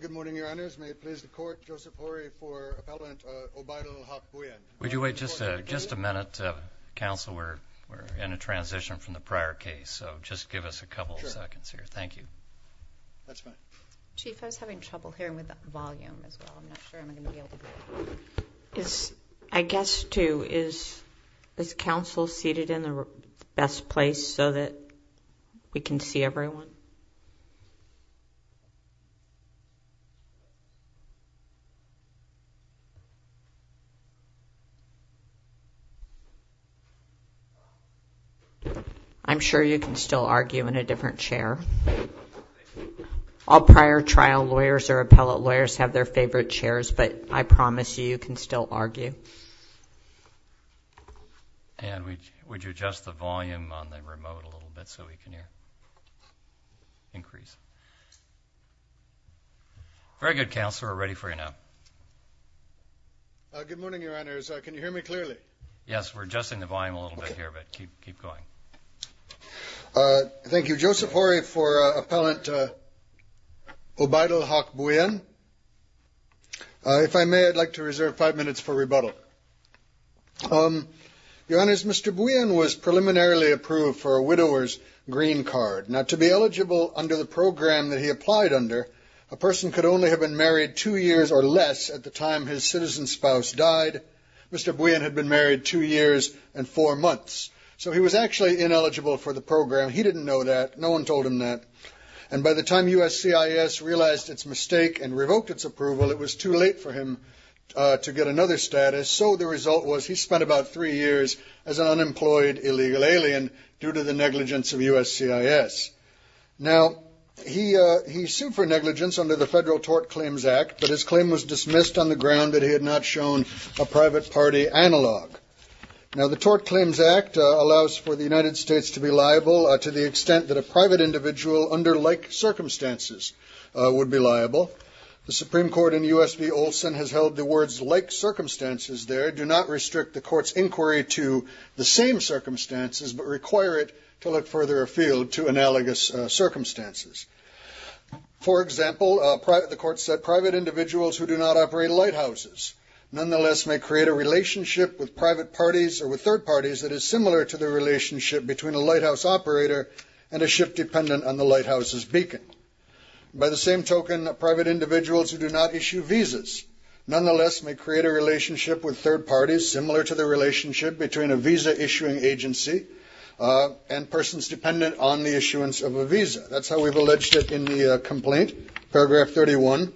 Good morning, Your Honors. May it please the Court, Joseph Horry for Appellant O'Baydul Bhuiyan. Would you wait just a minute, Counsel? We're in a transition from the prior case. So just give us a couple of seconds here. Thank you. That's fine. Chief, I was having trouble hearing with the volume as well. I'm not sure I'm going to be able to hear. I guess, too, is Counsel seated in the best place so that we can see everyone? I'm sure you can still argue in a different chair. All prior trial lawyers or appellate lawyers have their favorite chairs, but I promise you, you can still argue. And would you adjust the volume on the remote a little bit so we can hear? Increase. Very good, Counsel. We're ready for you now. Good morning, Your Honors. Can you hear me clearly? Yes, we're adjusting the volume a little bit here, but keep going. Thank you, Joseph Horry for Appellant O'Baydul Haq Bhuiyan. If I may, I'd like to reserve five minutes for rebuttal. Your Honors, Mr. Bhuiyan was preliminarily approved for a widower's green card. Now, to be eligible under the program that he applied under, a person could only have been married two years or less at the time his citizen spouse died. Mr. Bhuiyan had been married two years and four months. So he was actually ineligible for the program. He didn't know that. No one told him that. And by the time USCIS realized its mistake and revoked its approval, it was too late for him to get another status. So the result was he spent about three years as an unemployed illegal alien due to the negligence of USCIS. Now, he sued for negligence under the Federal Tort Claims Act, but his claim was dismissed on the ground that he had not shown a private party analog. Now, the Tort Claims Act allows for the United States to be liable to the extent that a private individual under like circumstances would be liable. The Supreme Court in U.S. v. Olson has held the words like circumstances there do not restrict the court's inquiry to the same circumstances, but require it to look further afield to analogous circumstances. For example, the court said private individuals who do not operate lighthouses, nonetheless, may create a relationship with private parties or with third parties that is similar to the relationship between a lighthouse operator and a ship dependent on the lighthouse's beacon. By the same token, private individuals who do not issue visas, nonetheless, may create a relationship with third parties similar to the relationship between a visa-issuing agency and persons dependent on the issuance of a visa. That's how we've alleged it in the complaint, paragraph 31.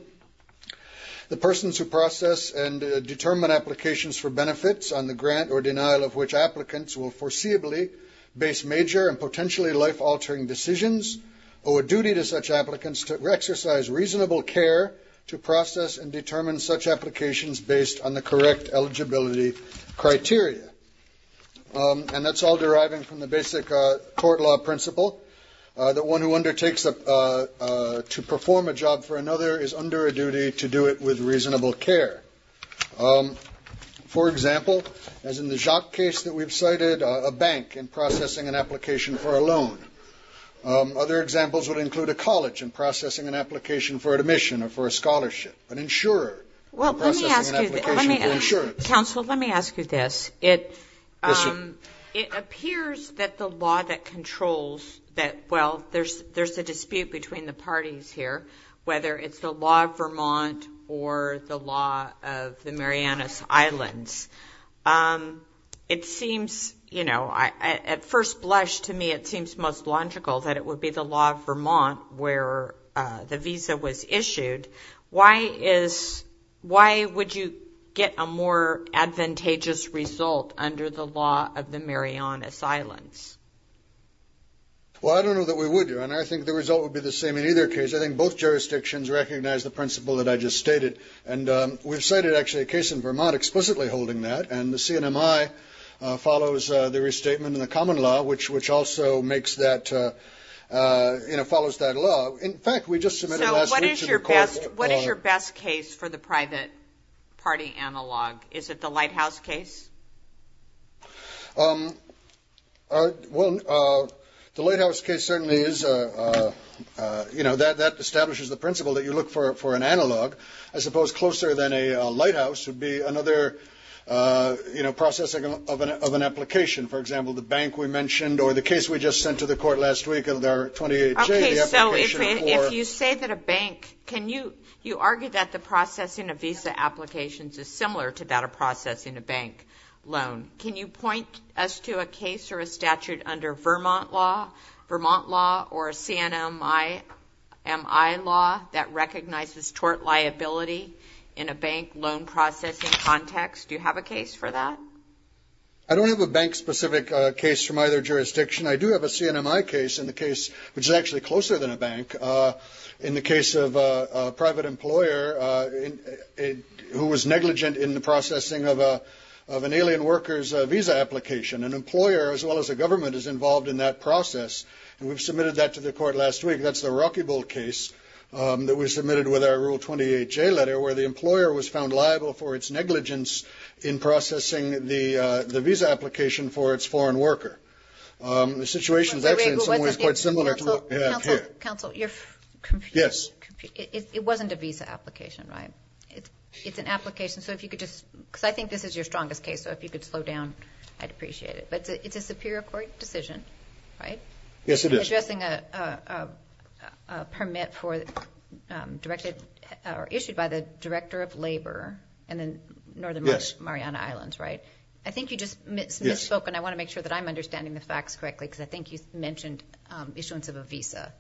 The persons who process and determine applications for benefits on the grant or denial of which applicants will foreseeably base major and potentially life-altering decisions owe a duty to such applicants to exercise reasonable care to process and determine such applications based on the correct eligibility criteria. And that's all deriving from the basic court law principle, that one who undertakes to perform a job for another is under a duty to do it with reasonable care. For example, as in the Jacques case that we've cited, a bank in processing an application for a loan. Other examples would include a college in processing an application for admission or for a scholarship. An insurer in processing an application for insurance. Counsel, let me ask you this. It appears that the law that controls that, well, there's a dispute between the parties here, whether it's the law of Vermont or the law of the Marianas Islands. It seems, you know, at first blush to me it seems most logical that it would be the law of Vermont where the visa was issued. Why is, why would you get a more advantageous result under the law of the Marianas Islands? Well, I don't know that we would do, and I think the result would be the same in either case. I think both jurisdictions recognize the principle that I just stated, and we've cited actually a case in Vermont explicitly holding that, and the CNMI follows the restatement in the common law, which also makes that, you know, follows that law. In fact, we just submitted last week to the court. So what is your best case for the private party analog? Is it the Lighthouse case? Well, the Lighthouse case certainly is, you know, that establishes the principle that you look for an analog. I suppose closer than a Lighthouse would be another, you know, processing of an application. For example, the bank we mentioned or the case we just sent to the court last week, Okay, so if you say that a bank, can you argue that the processing of visa applications is similar to that of processing a bank loan? Can you point us to a case or a statute under Vermont law, Vermont law or CNMI law that recognizes tort liability in a bank loan processing context? Do you have a case for that? I don't have a bank-specific case from either jurisdiction. I do have a CNMI case in the case, which is actually closer than a bank, in the case of a private employer who was negligent in the processing of an alien worker's visa application. An employer, as well as a government, is involved in that process. And we've submitted that to the court last week. That's the Rocky Bowl case that was submitted with our Rule 28J letter, where the employer was found liable for its negligence in processing the visa application for its foreign worker. The situation is actually in some ways quite similar to what we have here. Counsel, you're confused. Yes. It wasn't a visa application, right? It's an application, so if you could just, because I think this is your strongest case, so if you could slow down, I'd appreciate it. But it's a Superior Court decision, right? Yes, it is. You're addressing a permit issued by the Director of Labor in the Northern Mariana Islands, right? I think you just misspoke, and I want to make sure that I'm understanding the facts correctly, because I think you mentioned issuance of a visa.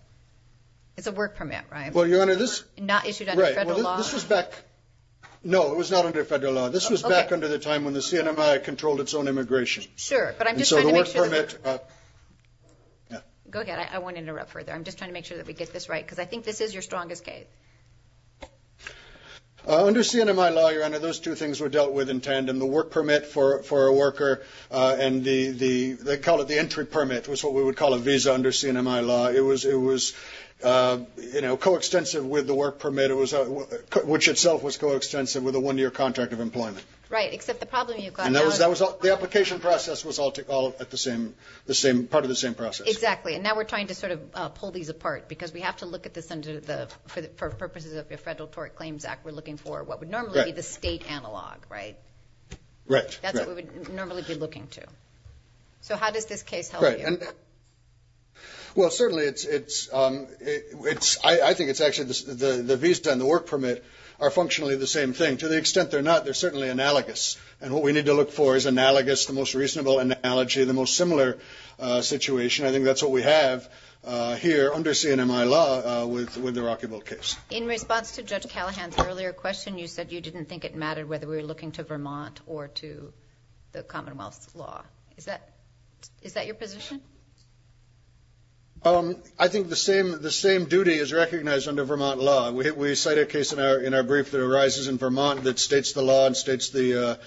It's a work permit, right? Well, Your Honor, this – Not issued under federal law. Right. Well, this was back – no, it was not under federal law. This was back under the time when the CNMI controlled its own immigration. Sure, but I'm just trying to make sure – And so the work permit – Go ahead. I won't interrupt further. I'm just trying to make sure that we get this right, because I think this is your strongest case. Under CNMI law, Your Honor, those two things were dealt with in tandem. The work permit for a worker and the – they call it the entry permit, was what we would call a visa under CNMI law. It was, you know, coextensive with the work permit, which itself was coextensive with a one-year contract of employment. Right, except the problem you've got now is – And that was – the application process was all at the same – part of the same process. Exactly. And now we're trying to sort of pull these apart, because we have to look at this under the – for purposes of the Federal Tort Claims Act, we're looking for what would normally be the state analog, right? Right. That's what we would normally be looking to. So how does this case help you? Well, certainly it's – I think it's actually – the visa and the work permit are functionally the same thing. To the extent they're not, they're certainly analogous. And what we need to look for is analogous, the most reasonable analogy, the most similar situation. I think that's what we have here under CNMI law with the Rockyville case. In response to Judge Callahan's earlier question, you said you didn't think it mattered whether we were looking to Vermont or to the Commonwealth's law. Is that your position? I think the same duty is recognized under Vermont law. We cite a case in our brief that arises in Vermont that states the law and states the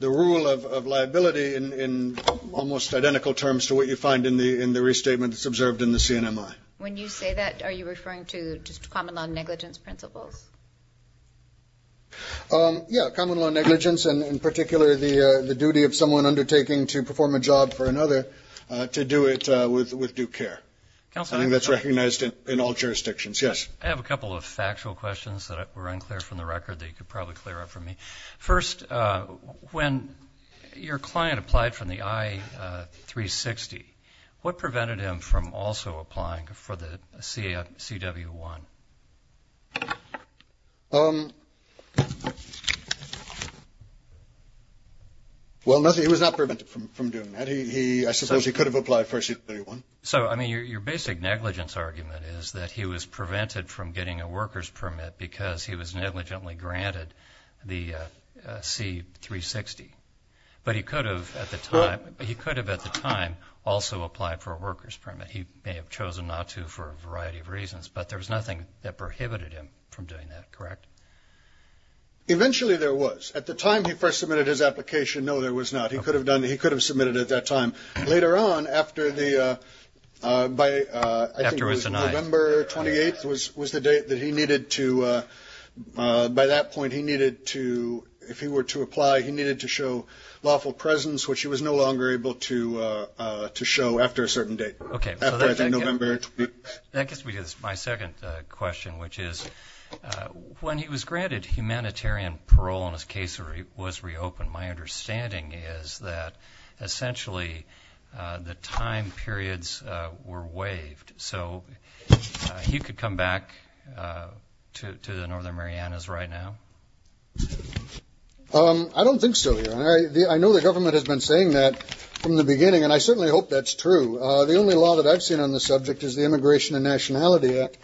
rule of liability in almost identical terms to what you find in the restatement that's observed in the CNMI. When you say that, are you referring to just common law negligence principles? Yeah, common law negligence, and in particular the duty of someone undertaking to perform a job for another to do it with due care. I think that's recognized in all jurisdictions. Yes? I have a couple of factual questions that were unclear from the record that you could probably clear up for me. First, when your client applied for the I-360, what prevented him from also applying for the CW-1? Well, nothing. He was not prevented from doing that. I suppose he could have applied for CW-1. So, I mean, your basic negligence argument is that he was prevented from getting a worker's permit because he was negligently granted the C-360, but he could have at the time also applied for a worker's permit. He may have chosen not to for a variety of reasons, but there was nothing that prohibited him from doing that, correct? Eventually there was. At the time he first submitted his application, no, there was not. He could have submitted it at that time. Later on, I think it was November 28th was the date that he needed to, by that point, if he were to apply, he needed to show lawful presence, which he was no longer able to show after a certain date, after November 28th. That gets me to my second question, which is when he was granted humanitarian parole and his case was reopened, my understanding is that essentially the time periods were waived. So he could come back to the Northern Marianas right now? I don't think so. I know the government has been saying that from the beginning, and I certainly hope that's true. The only law that I've seen on the subject is the Immigration and Nationality Act,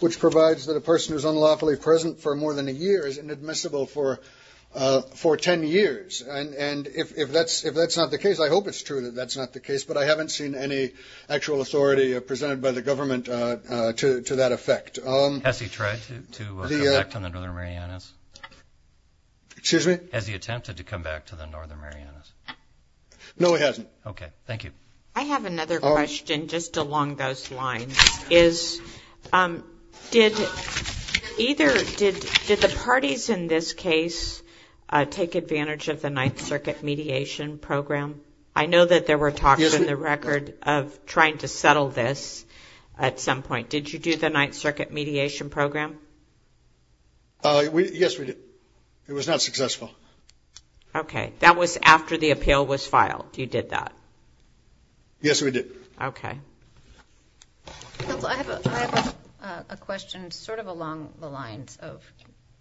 which provides that a person who is unlawfully present for more than a year is inadmissible for ten years. And if that's not the case, I hope it's true that that's not the case, but I haven't seen any actual authority presented by the government to that effect. Has he tried to come back to the Northern Marianas? Excuse me? Has he attempted to come back to the Northern Marianas? No, he hasn't. Okay, thank you. I have another question just along those lines. Did the parties in this case take advantage of the Ninth Circuit mediation program? I know that there were talks in the record of trying to settle this at some point. Did you do the Ninth Circuit mediation program? Yes, we did. It was not successful. Okay. That was after the appeal was filed, you did that? Yes, we did. Okay. Counsel, I have a question sort of along the lines of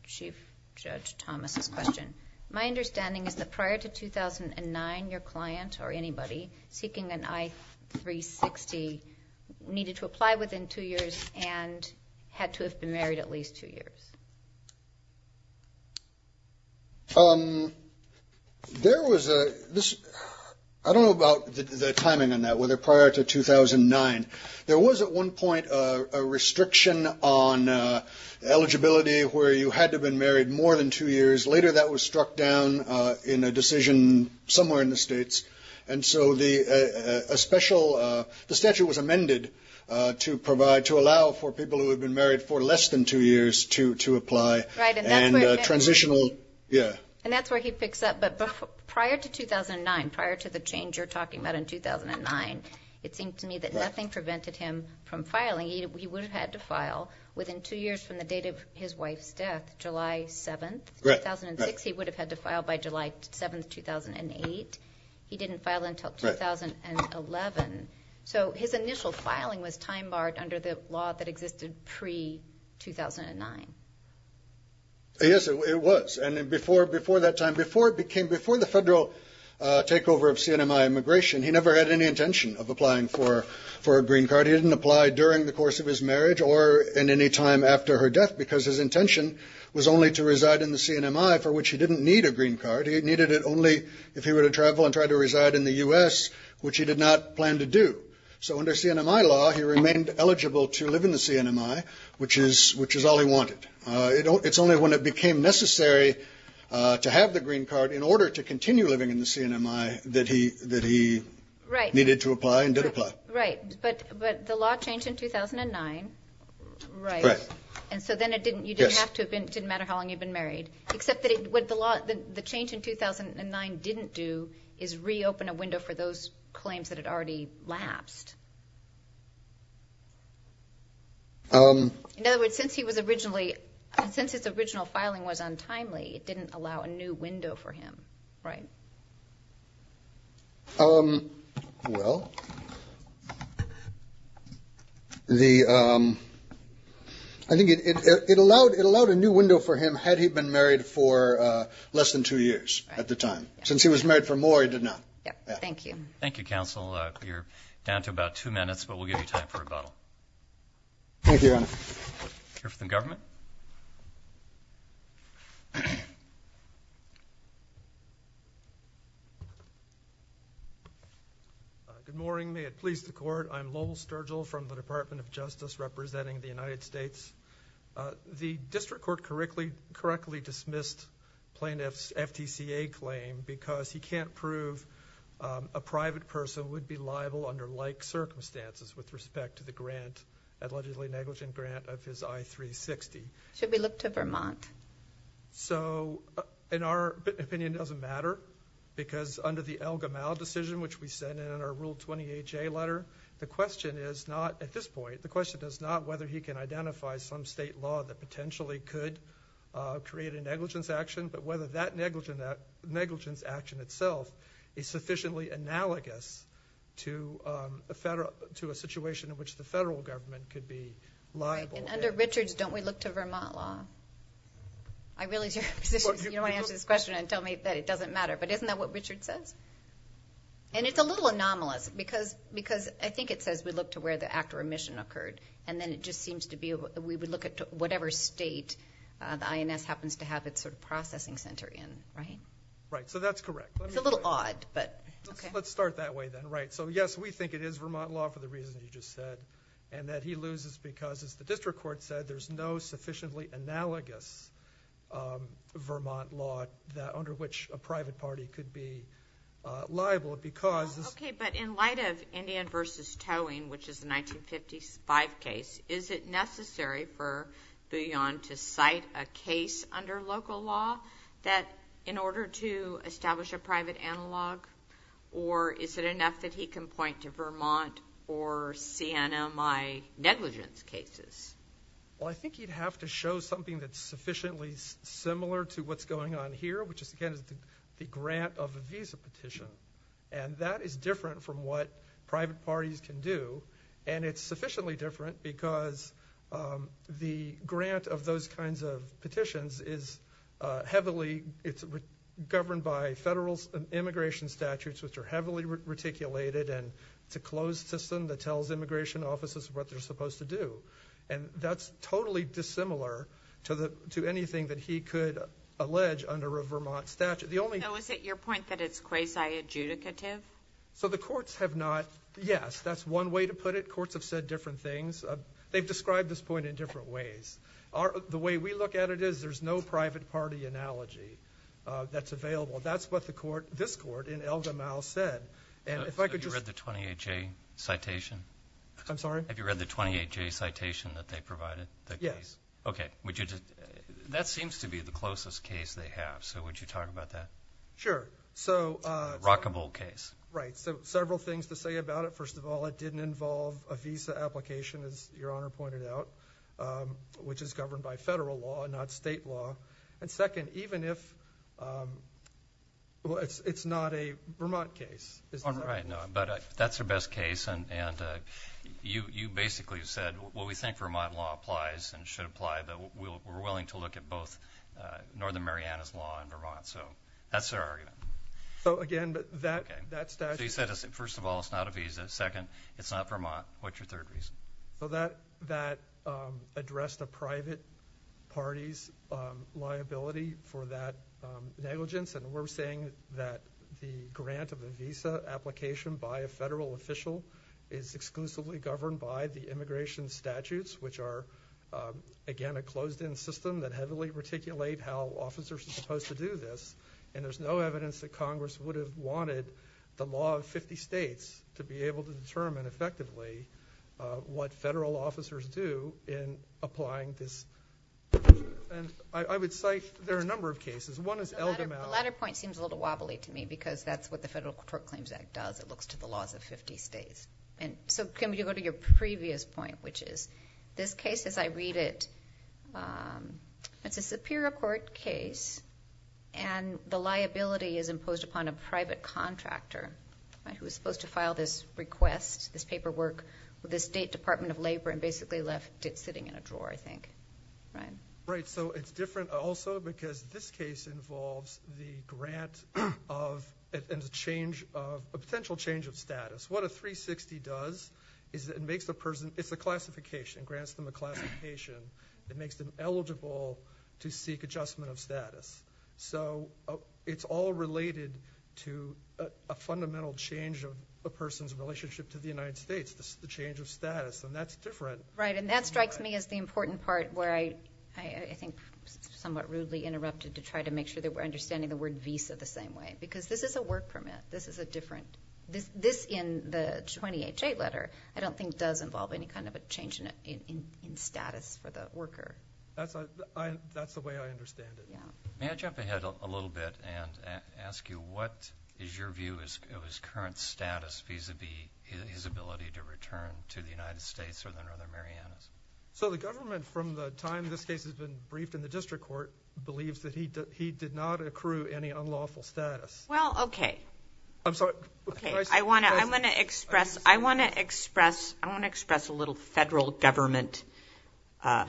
Chief Judge Thomas' question. My understanding is that prior to 2009, your client or anybody seeking an I-360 needed to apply within two years and had to have been married at least two years. There was a – I don't know about the timing on that, whether prior to 2009. There was at one point a restriction on eligibility where you had to have been married more than two years. Later that was struck down in a decision somewhere in the states. And so a special – the statute was amended to provide – to allow for people who had been married for less than two years to apply. Right. And transitional – yeah. And that's where he picks up. But prior to 2009, prior to the change you're talking about in 2009, it seemed to me that nothing prevented him from filing. He would have had to file within two years from the date of his wife's death, July 7th, 2006. He would have had to file by July 7th, 2008. He didn't file until 2011. So his initial filing was time-barred under the law that existed pre-2009. Yes, it was. And before that time, before it became – before the federal takeover of CNMI immigration, he never had any intention of applying for a green card. He didn't apply during the course of his marriage or at any time after her death because his intention was only to reside in the CNMI, for which he didn't need a green card. He needed it only if he were to travel and try to reside in the U.S., which he did not plan to do. So under CNMI law, he remained eligible to live in the CNMI, which is all he wanted. It's only when it became necessary to have the green card in order to continue living in the CNMI that he needed to apply and did apply. Right. But the law changed in 2009. Right. And so then it didn't – you didn't have to – it didn't matter how long you'd been married. Except that what the law – the change in 2009 didn't do is reopen a window for those claims that had already lapsed. In other words, since he was originally – since his original filing was untimely, it didn't allow a new window for him, right? Well, the – I think it allowed a new window for him had he been married for less than two years at the time. Since he was married for more, he did not. Thank you. Thank you, Counsel. You're down to about two minutes, but we'll give you time for rebuttal. Thank you, Your Honor. Here for the government. Good morning. May it please the Court, I'm Lowell Sturgill from the Department of Justice representing the United States. The district court correctly dismissed plaintiff's FTCA claim because he can't prove a private person would be liable under like circumstances with respect to the grant, allegedly negligent grant, of his I-360. Should we look to Vermont? So, in our opinion, it doesn't matter because under the El Gamal decision, which we said in our Rule 28J letter, the question is not – at this point, the question is not whether he can identify some state law that potentially could create a negligence action, but whether that negligence action itself is sufficiently analogous to a situation in which the federal government could be liable. And under Richards, don't we look to Vermont law? I realize you're going to answer this question and tell me that it doesn't matter, but isn't that what Richards says? And it's a little anomalous because I think it says we look to where the act of remission occurred, and then it just seems to be we would look at whatever state the INS happens to have its sort of processing center in, right? Right, so that's correct. It's a little odd, but okay. Let's start that way then, right. So, yes, we think it is Vermont law for the reason you just said, and that he loses because, as the district court said, there's no sufficiently analogous Vermont law under which a private party could be liable because – Okay, but in light of Indian v. Towing, which is the 1955 case, is it necessary for Bouillon to cite a case under local law that in order to establish a private analog, or is it enough that he can point to Vermont or CNMI negligence cases? Well, I think he'd have to show something that's sufficiently similar to what's going on here, which is, again, the grant of a visa petition. And that is different from what private parties can do, and it's sufficiently different because the grant of those kinds of petitions is heavily governed by federal immigration statutes, which are heavily reticulated, and it's a closed system that tells immigration offices what they're supposed to do. And that's totally dissimilar to anything that he could allege under a Vermont statute. So is it your point that it's quasi-adjudicative? So the courts have not – yes, that's one way to put it. Courts have said different things. They've described this point in different ways. The way we look at it is there's no private party analogy that's available. That's what this court in Elgamau said. Have you read the 28J citation? I'm sorry? Have you read the 28J citation that they provided, the case? Yes. Okay. That seems to be the closest case they have, so would you talk about that? Sure. A rockable case. Right. So several things to say about it. First of all, it didn't involve a visa application, as Your Honor pointed out, which is governed by federal law, not state law. And second, even if – well, it's not a Vermont case. But that's their best case, and you basically said, well, we think Vermont law applies and should apply, but we're willing to look at both Northern Mariana's law and Vermont. So that's their argument. So, again, that statute – So you said, first of all, it's not a visa. Second, it's not Vermont. What's your third reason? So that addressed a private party's liability for that negligence, and we're saying that the grant of a visa application by a federal official is exclusively governed by the immigration statutes, which are, again, a closed-in system that heavily reticulate how officers are supposed to do this. And there's no evidence that Congress would have wanted the law of 50 states to be able to determine effectively what federal officers do in applying this. And I would cite – there are a number of cases. One is Eldermatt. The latter point seems a little wobbly to me because that's what the Federal Court Claims Act does. It looks to the laws of 50 states. And so, Kim, you go to your previous point, which is this case, as I read it, it's a superior court case, and the liability is imposed upon a private contractor who is supposed to file this request, this paperwork, with the State Department of Labor and basically left it sitting in a drawer, I think. Right, so it's different also because this case involves the grant of a potential change of status. What a 360 does is it makes the person – it's a classification, grants them a classification. It makes them eligible to seek adjustment of status. So it's all related to a fundamental change of a person's relationship to the United States, the change of status, and that's different. Right, and that strikes me as the important part where I think somewhat rudely interrupted to try to make sure that we're understanding the word visa the same way because this is a work permit. This is a different – this in the 20HA letter I don't think does involve any kind of a change in status for the worker. That's the way I understand it. May I jump ahead a little bit and ask you what is your view of his current status vis-à-vis his ability to return to the United States or the Northern Marianas? So the government, from the time this case has been briefed in the district court, believes that he did not accrue any unlawful status. Well, okay. I'm sorry. I want to express a little federal government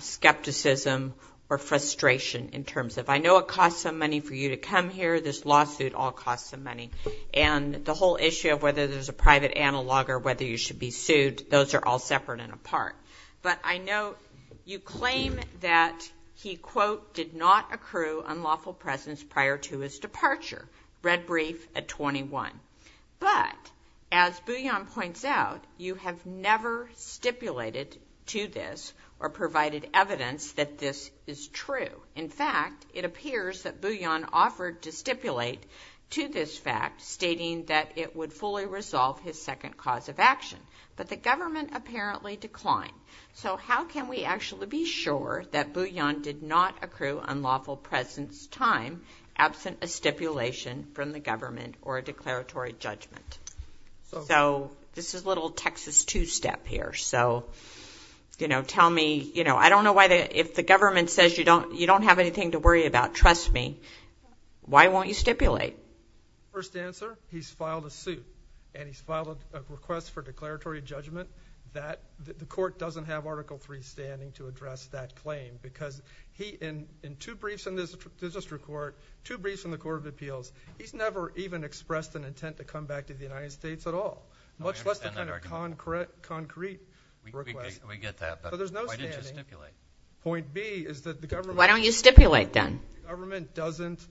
skepticism or frustration in terms of, I know it costs some money for you to come here. This lawsuit all costs some money. And the whole issue of whether there's a private analog or whether you should be sued, those are all separate and apart. But I know you claim that he, quote, did not accrue unlawful presence prior to his departure. Read brief at 21. But as Bouillon points out, you have never stipulated to this or provided evidence that this is true. In fact, it appears that Bouillon offered to stipulate to this fact, stating that it would fully resolve his second cause of action. But the government apparently declined. So how can we actually be sure that Bouillon did not accrue unlawful presence time, absent a stipulation from the government or a declaratory judgment? So this is a little Texas 2 step here. So, you know, tell me, you know, I don't know why the government says you don't have anything to worry about. Trust me. Why won't you stipulate? First answer, he's filed a suit. And he's filed a request for declaratory judgment. The court doesn't have Article III standing to address that claim because he, in two briefs in this district court, two briefs in the Court of Appeals, he's never even expressed an intent to come back to the United States at all, much less the kind of concrete request. We get that. But why didn't you stipulate? Point B is that the government. Why don't you stipulate then? The government doesn't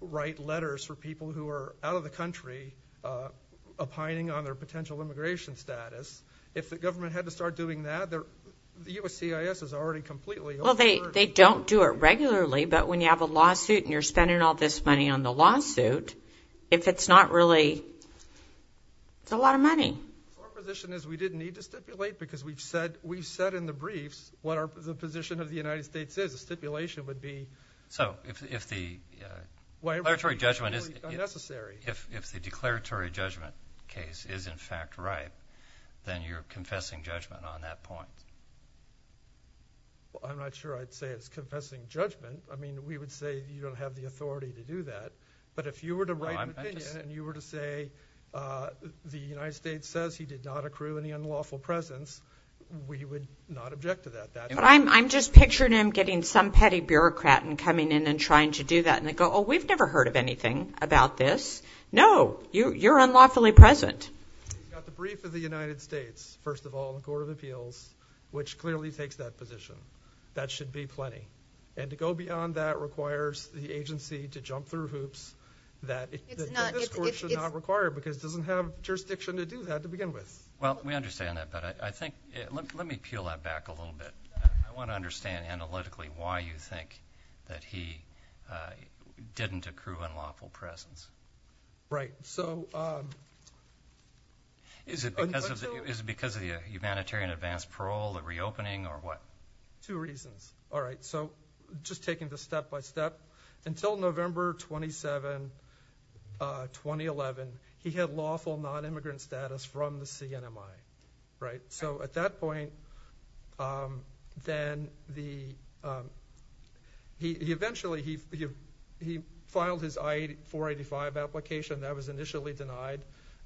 write letters for people who are out of the country, opining on their potential immigration status. If the government had to start doing that, the USCIS is already completely over. Well, they don't do it regularly. But when you have a lawsuit and you're spending all this money on the lawsuit, if it's not really, it's a lot of money. Our position is we didn't need to stipulate because we've said in the briefs what the position of the United States is. The stipulation would be. So if the declaratory judgment is in fact right, then you're confessing judgment on that point. I'm not sure I'd say it's confessing judgment. I mean, we would say you don't have the authority to do that. But if you were to write an opinion and you were to say the United States says he did not accrue any unlawful presence, we would not object to that. But I'm just picturing him getting some petty bureaucrat and coming in and trying to do that. And they go, oh, we've never heard of anything about this. No, you're unlawfully present. You've got the brief of the United States, first of all, the Court of Appeals, which clearly takes that position. That should be plenty. And to go beyond that requires the agency to jump through hoops that this Court should not require because it doesn't have jurisdiction to do that to begin with. Well, we understand that. But let me peel that back a little bit. I want to understand analytically why you think that he didn't accrue unlawful presence. Right. Is it because of the humanitarian advance parole, the reopening, or what? Two reasons. All right. So just taking this step by step, until November 27, 2011, he had lawful nonimmigrant status from the CNMI. So at that point, then he eventually filed his I-485 application. That was initially denied.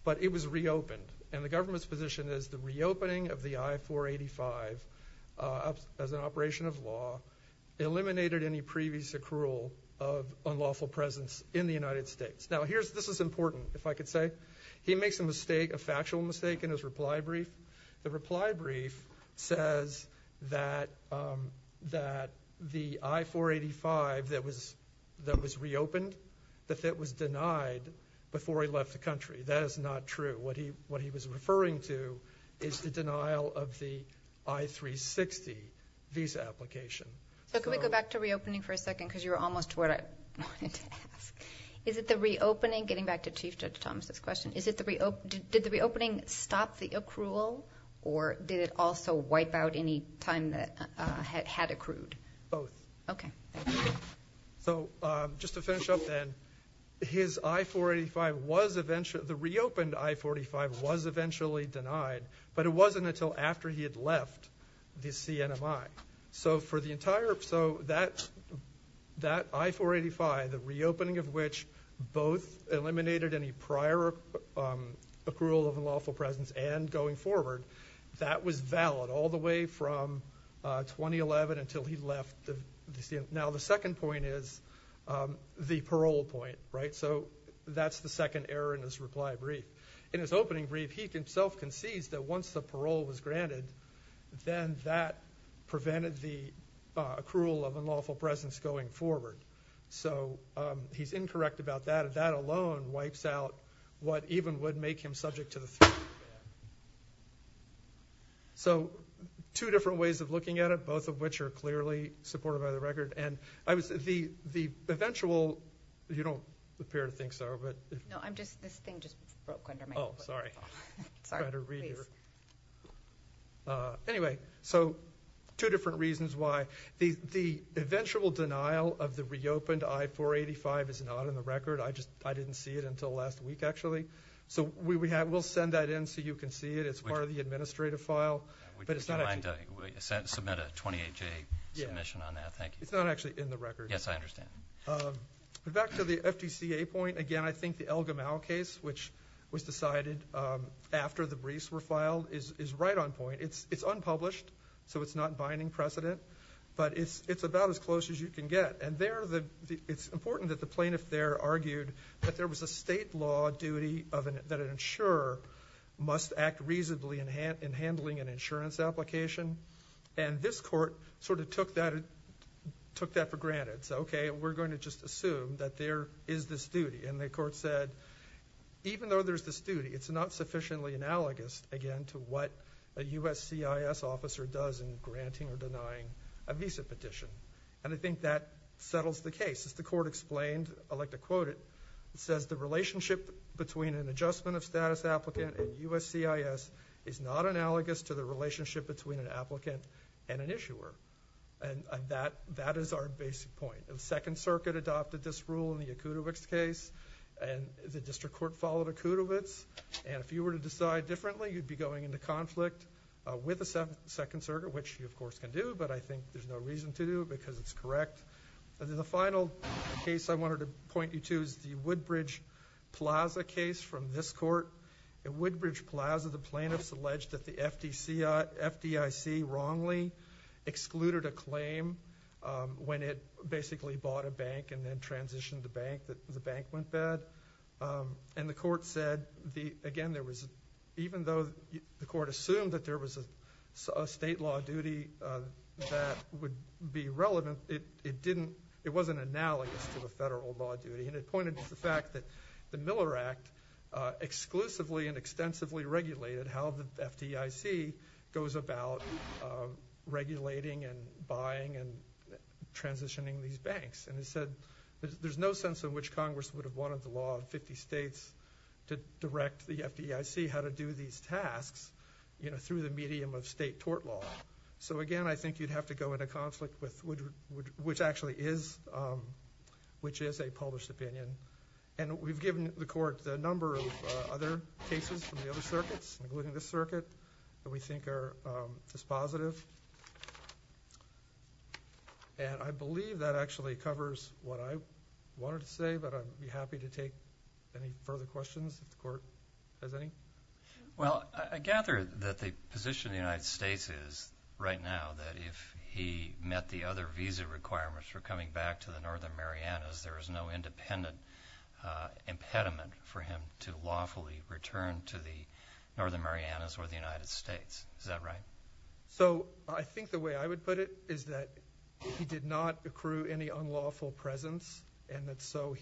But it was reopened. And the government's position is the reopening of the I-485 as an operation of law eliminated any previous accrual of unlawful presence in the United States. Now, this is important, if I could say. He makes a mistake, a factual mistake, in his reply brief. The reply brief says that the I-485 that was reopened, that it was denied before he left the country. That is not true. What he was referring to is the denial of the I-360 visa application. So could we go back to reopening for a second? Because you were almost to what I wanted to ask. Is it the reopening, getting back to Chief Judge Thomas' question, did the reopening stop the accrual, or did it also wipe out any time that had accrued? Both. Okay. So just to finish up then, his I-485 was eventually, the reopened I-485 was eventually denied, but it wasn't until after he had left the CNMI. So for the entire, so that I-485, the reopening of which both eliminated any prior accrual of unlawful presence and going forward, that was valid all the way from 2011 until he left the CNMI. Now the second point is the parole point. So that's the second error in his reply brief. In his opening brief, he himself concedes that once the parole was granted, then that prevented the accrual of unlawful presence going forward. So he's incorrect about that. That alone wipes out what even would make him subject to the threat. So two different ways of looking at it, both of which are clearly supported by the record. And the eventual, you don't appear to think so. No, I'm just, this thing just broke under my foot. Oh, sorry. Sorry, please. Anyway, so two different reasons why. The eventual denial of the reopened I-485 is not in the record. I just didn't see it until last week, actually. So we'll send that in so you can see it. It's part of the administrative file. Would you be kind to submit a 28-J submission on that? Thank you. It's not actually in the record. Yes, I understand. Back to the FDCA point, again, I think the El Gamal case, which was decided after the briefs were filed, is right on point. It's unpublished, so it's not binding precedent. But it's about as close as you can get. It's important that the plaintiff there argued that there was a state law duty that an insurer must act reasonably in handling an insurance application. And this court sort of took that for granted. So, okay, we're going to just assume that there is this duty. And the court said, even though there's this duty, it's not sufficiently analogous, again, to what a USCIS officer does in granting or denying a visa petition. And I think that settles the case. As the court explained, I like to quote it, it says the relationship between an adjustment of status applicant and USCIS is not analogous to the relationship between an applicant and an issuer. And that is our basic point. The Second Circuit adopted this rule in the Akutovic's case. And the district court followed Akutovic's. And if you were to decide differently, you'd be going into conflict with the Second Circuit, which you, of course, can do. But I think there's no reason to do it because it's correct. And then the final case I wanted to point you to is the Woodbridge Plaza case from this court. At Woodbridge Plaza, the plaintiffs alleged that the FDIC wrongly excluded a claim when it basically bought a bank and then transitioned the bank, that the bank went bad. And the court said, again, even though the court assumed that there was a state law duty that would be relevant, it wasn't analogous to the federal law duty. And it pointed to the fact that the Miller Act exclusively and extensively regulated how the FDIC goes about regulating and buying and transitioning these banks. And it said there's no sense in which Congress would have wanted the law of 50 states to direct the FDIC how to do these tasks, you know, through the medium of state tort law. So, again, I think you'd have to go into conflict with which actually is a published opinion. And we've given the court the number of other cases from the other circuits, including this circuit, that we think is positive. And I believe that actually covers what I wanted to say, but I'd be happy to take any further questions if the court has any. Well, I gather that the position of the United States is, right now, that if he met the other visa requirements for coming back to the Northern Marianas, there is no independent impediment for him to lawfully return to the Northern Marianas or the United States. Is that right? So I think the way I would put it is that he did not accrue any unlawful presence, and so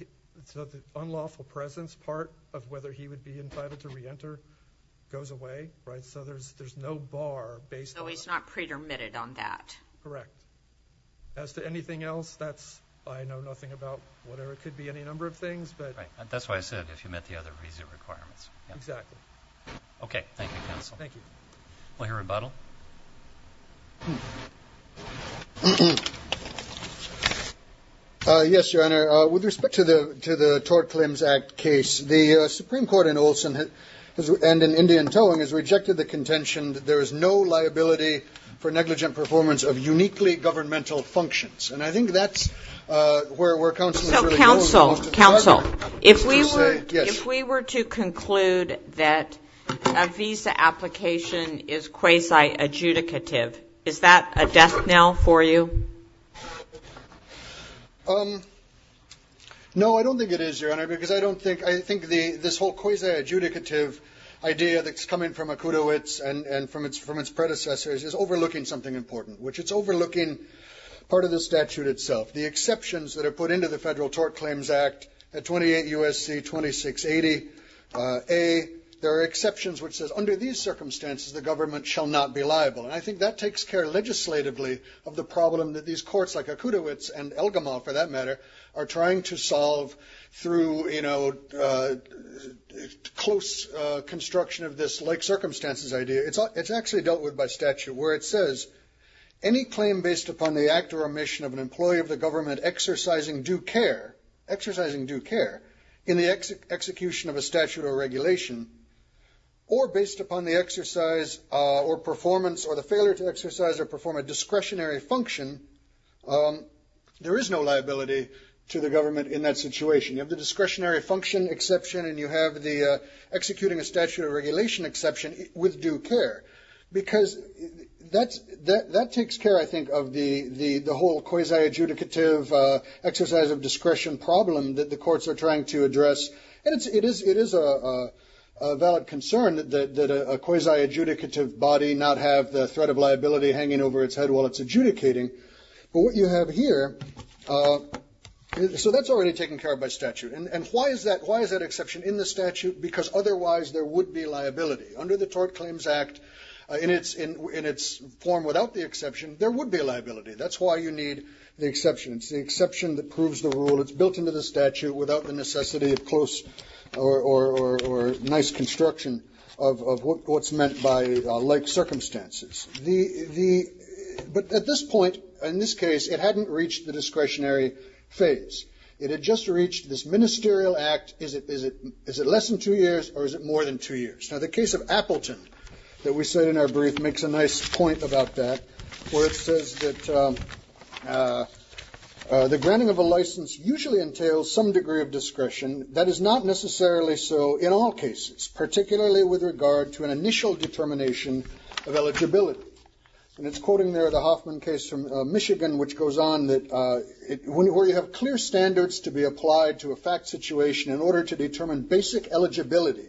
the unlawful presence part of whether he would be entitled to reenter goes away, right? So there's no bar based on that. So he's not pre-dermitted on that. Correct. As to anything else, I know nothing about whatever it could be, any number of things. Right. That's why I said if he met the other visa requirements. Exactly. Okay. Thank you, counsel. Thank you. We'll hear rebuttal. Yes, Your Honor. With respect to the Tort Claims Act case, the Supreme Court in Olson and in Indian Towing has rejected the contention that there is no liability for negligent performance of uniquely governmental functions. And I think that's where counsel is really going. So, counsel, counsel, if we were to conclude that a visa application is quasi-adjudicative, is that a death knell for you? No, I don't think it is, Your Honor, because I don't think, I think this whole quasi-adjudicative idea that's coming from Akutowicz and from its predecessors is overlooking something important, which it's overlooking part of the statute itself. The exceptions that are put into the Federal Tort Claims Act at 28 U.S.C. 2680A, there are exceptions which says under these circumstances, the government shall not be liable. And I think that takes care legislatively of the problem that these courts like Akutowicz and Elgamal, for that matter, are trying to solve through, you know, close construction of this like circumstances idea. It's actually dealt with by statute where it says, any claim based upon the act or omission of an employee of the government exercising due care, exercising due care in the execution of a statute or regulation, or based upon the exercise or performance or the failure to exercise or perform a discretionary function, there is no liability to the government in that situation. You have the discretionary function exception and you have the executing a statute of regulation exception with due care. Because that takes care, I think, of the whole quasi-adjudicative exercise of discretion problem that the courts are trying to address. And it is a valid concern that a quasi-adjudicative body not have the threat of liability hanging over its head while it's adjudicating. But what you have here, so that's already taken care of by statute. And why is that exception in the statute? Because otherwise there would be liability. Under the Tort Claims Act, in its form without the exception, there would be liability. That's why you need the exception. It's the exception that proves the rule. It's built into the statute without the necessity of close or nice construction of what's meant by like circumstances. But at this point, in this case, it hadn't reached the discretionary phase. It had just reached this ministerial act. Is it less than two years or is it more than two years? Now the case of Appleton that we said in our brief makes a nice point about that where it says that the granting of a license usually entails some degree of discretion. That is not necessarily so in all cases, particularly with regard to an initial determination of eligibility. And it's quoting there the Hoffman case from Michigan which goes on that where you have clear standards to be applied to a fact situation in order to determine basic eligibility.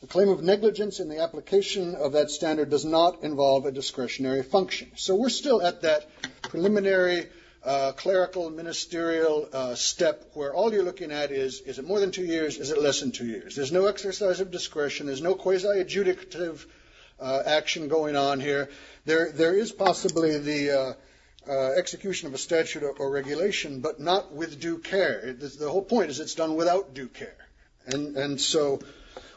The claim of negligence in the application of that standard does not involve a discretionary function. So we're still at that preliminary clerical ministerial step where all you're looking at is is it more than two years, is it less than two years? There's no exercise of discretion. There's no quasi-adjudicative action going on here. There is possibly the execution of a statute or regulation but not with due care. The whole point is it's done without due care. And so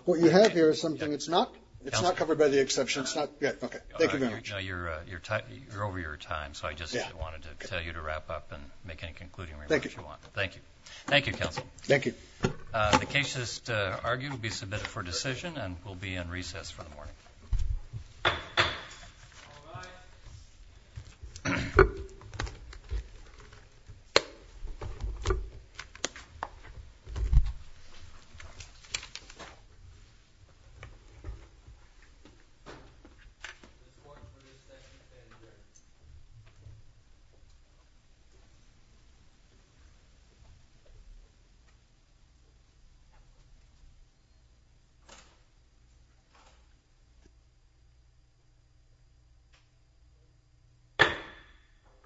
what you have here is something that's not covered by the exception. Thank you very much. You're over your time. So I just wanted to tell you to wrap up and make any concluding remarks you want. Thank you. Thank you, counsel. Thank you. The case is to argue to be submitted for decision and will be in recess for the morning. All rise. Thank you. Thank you.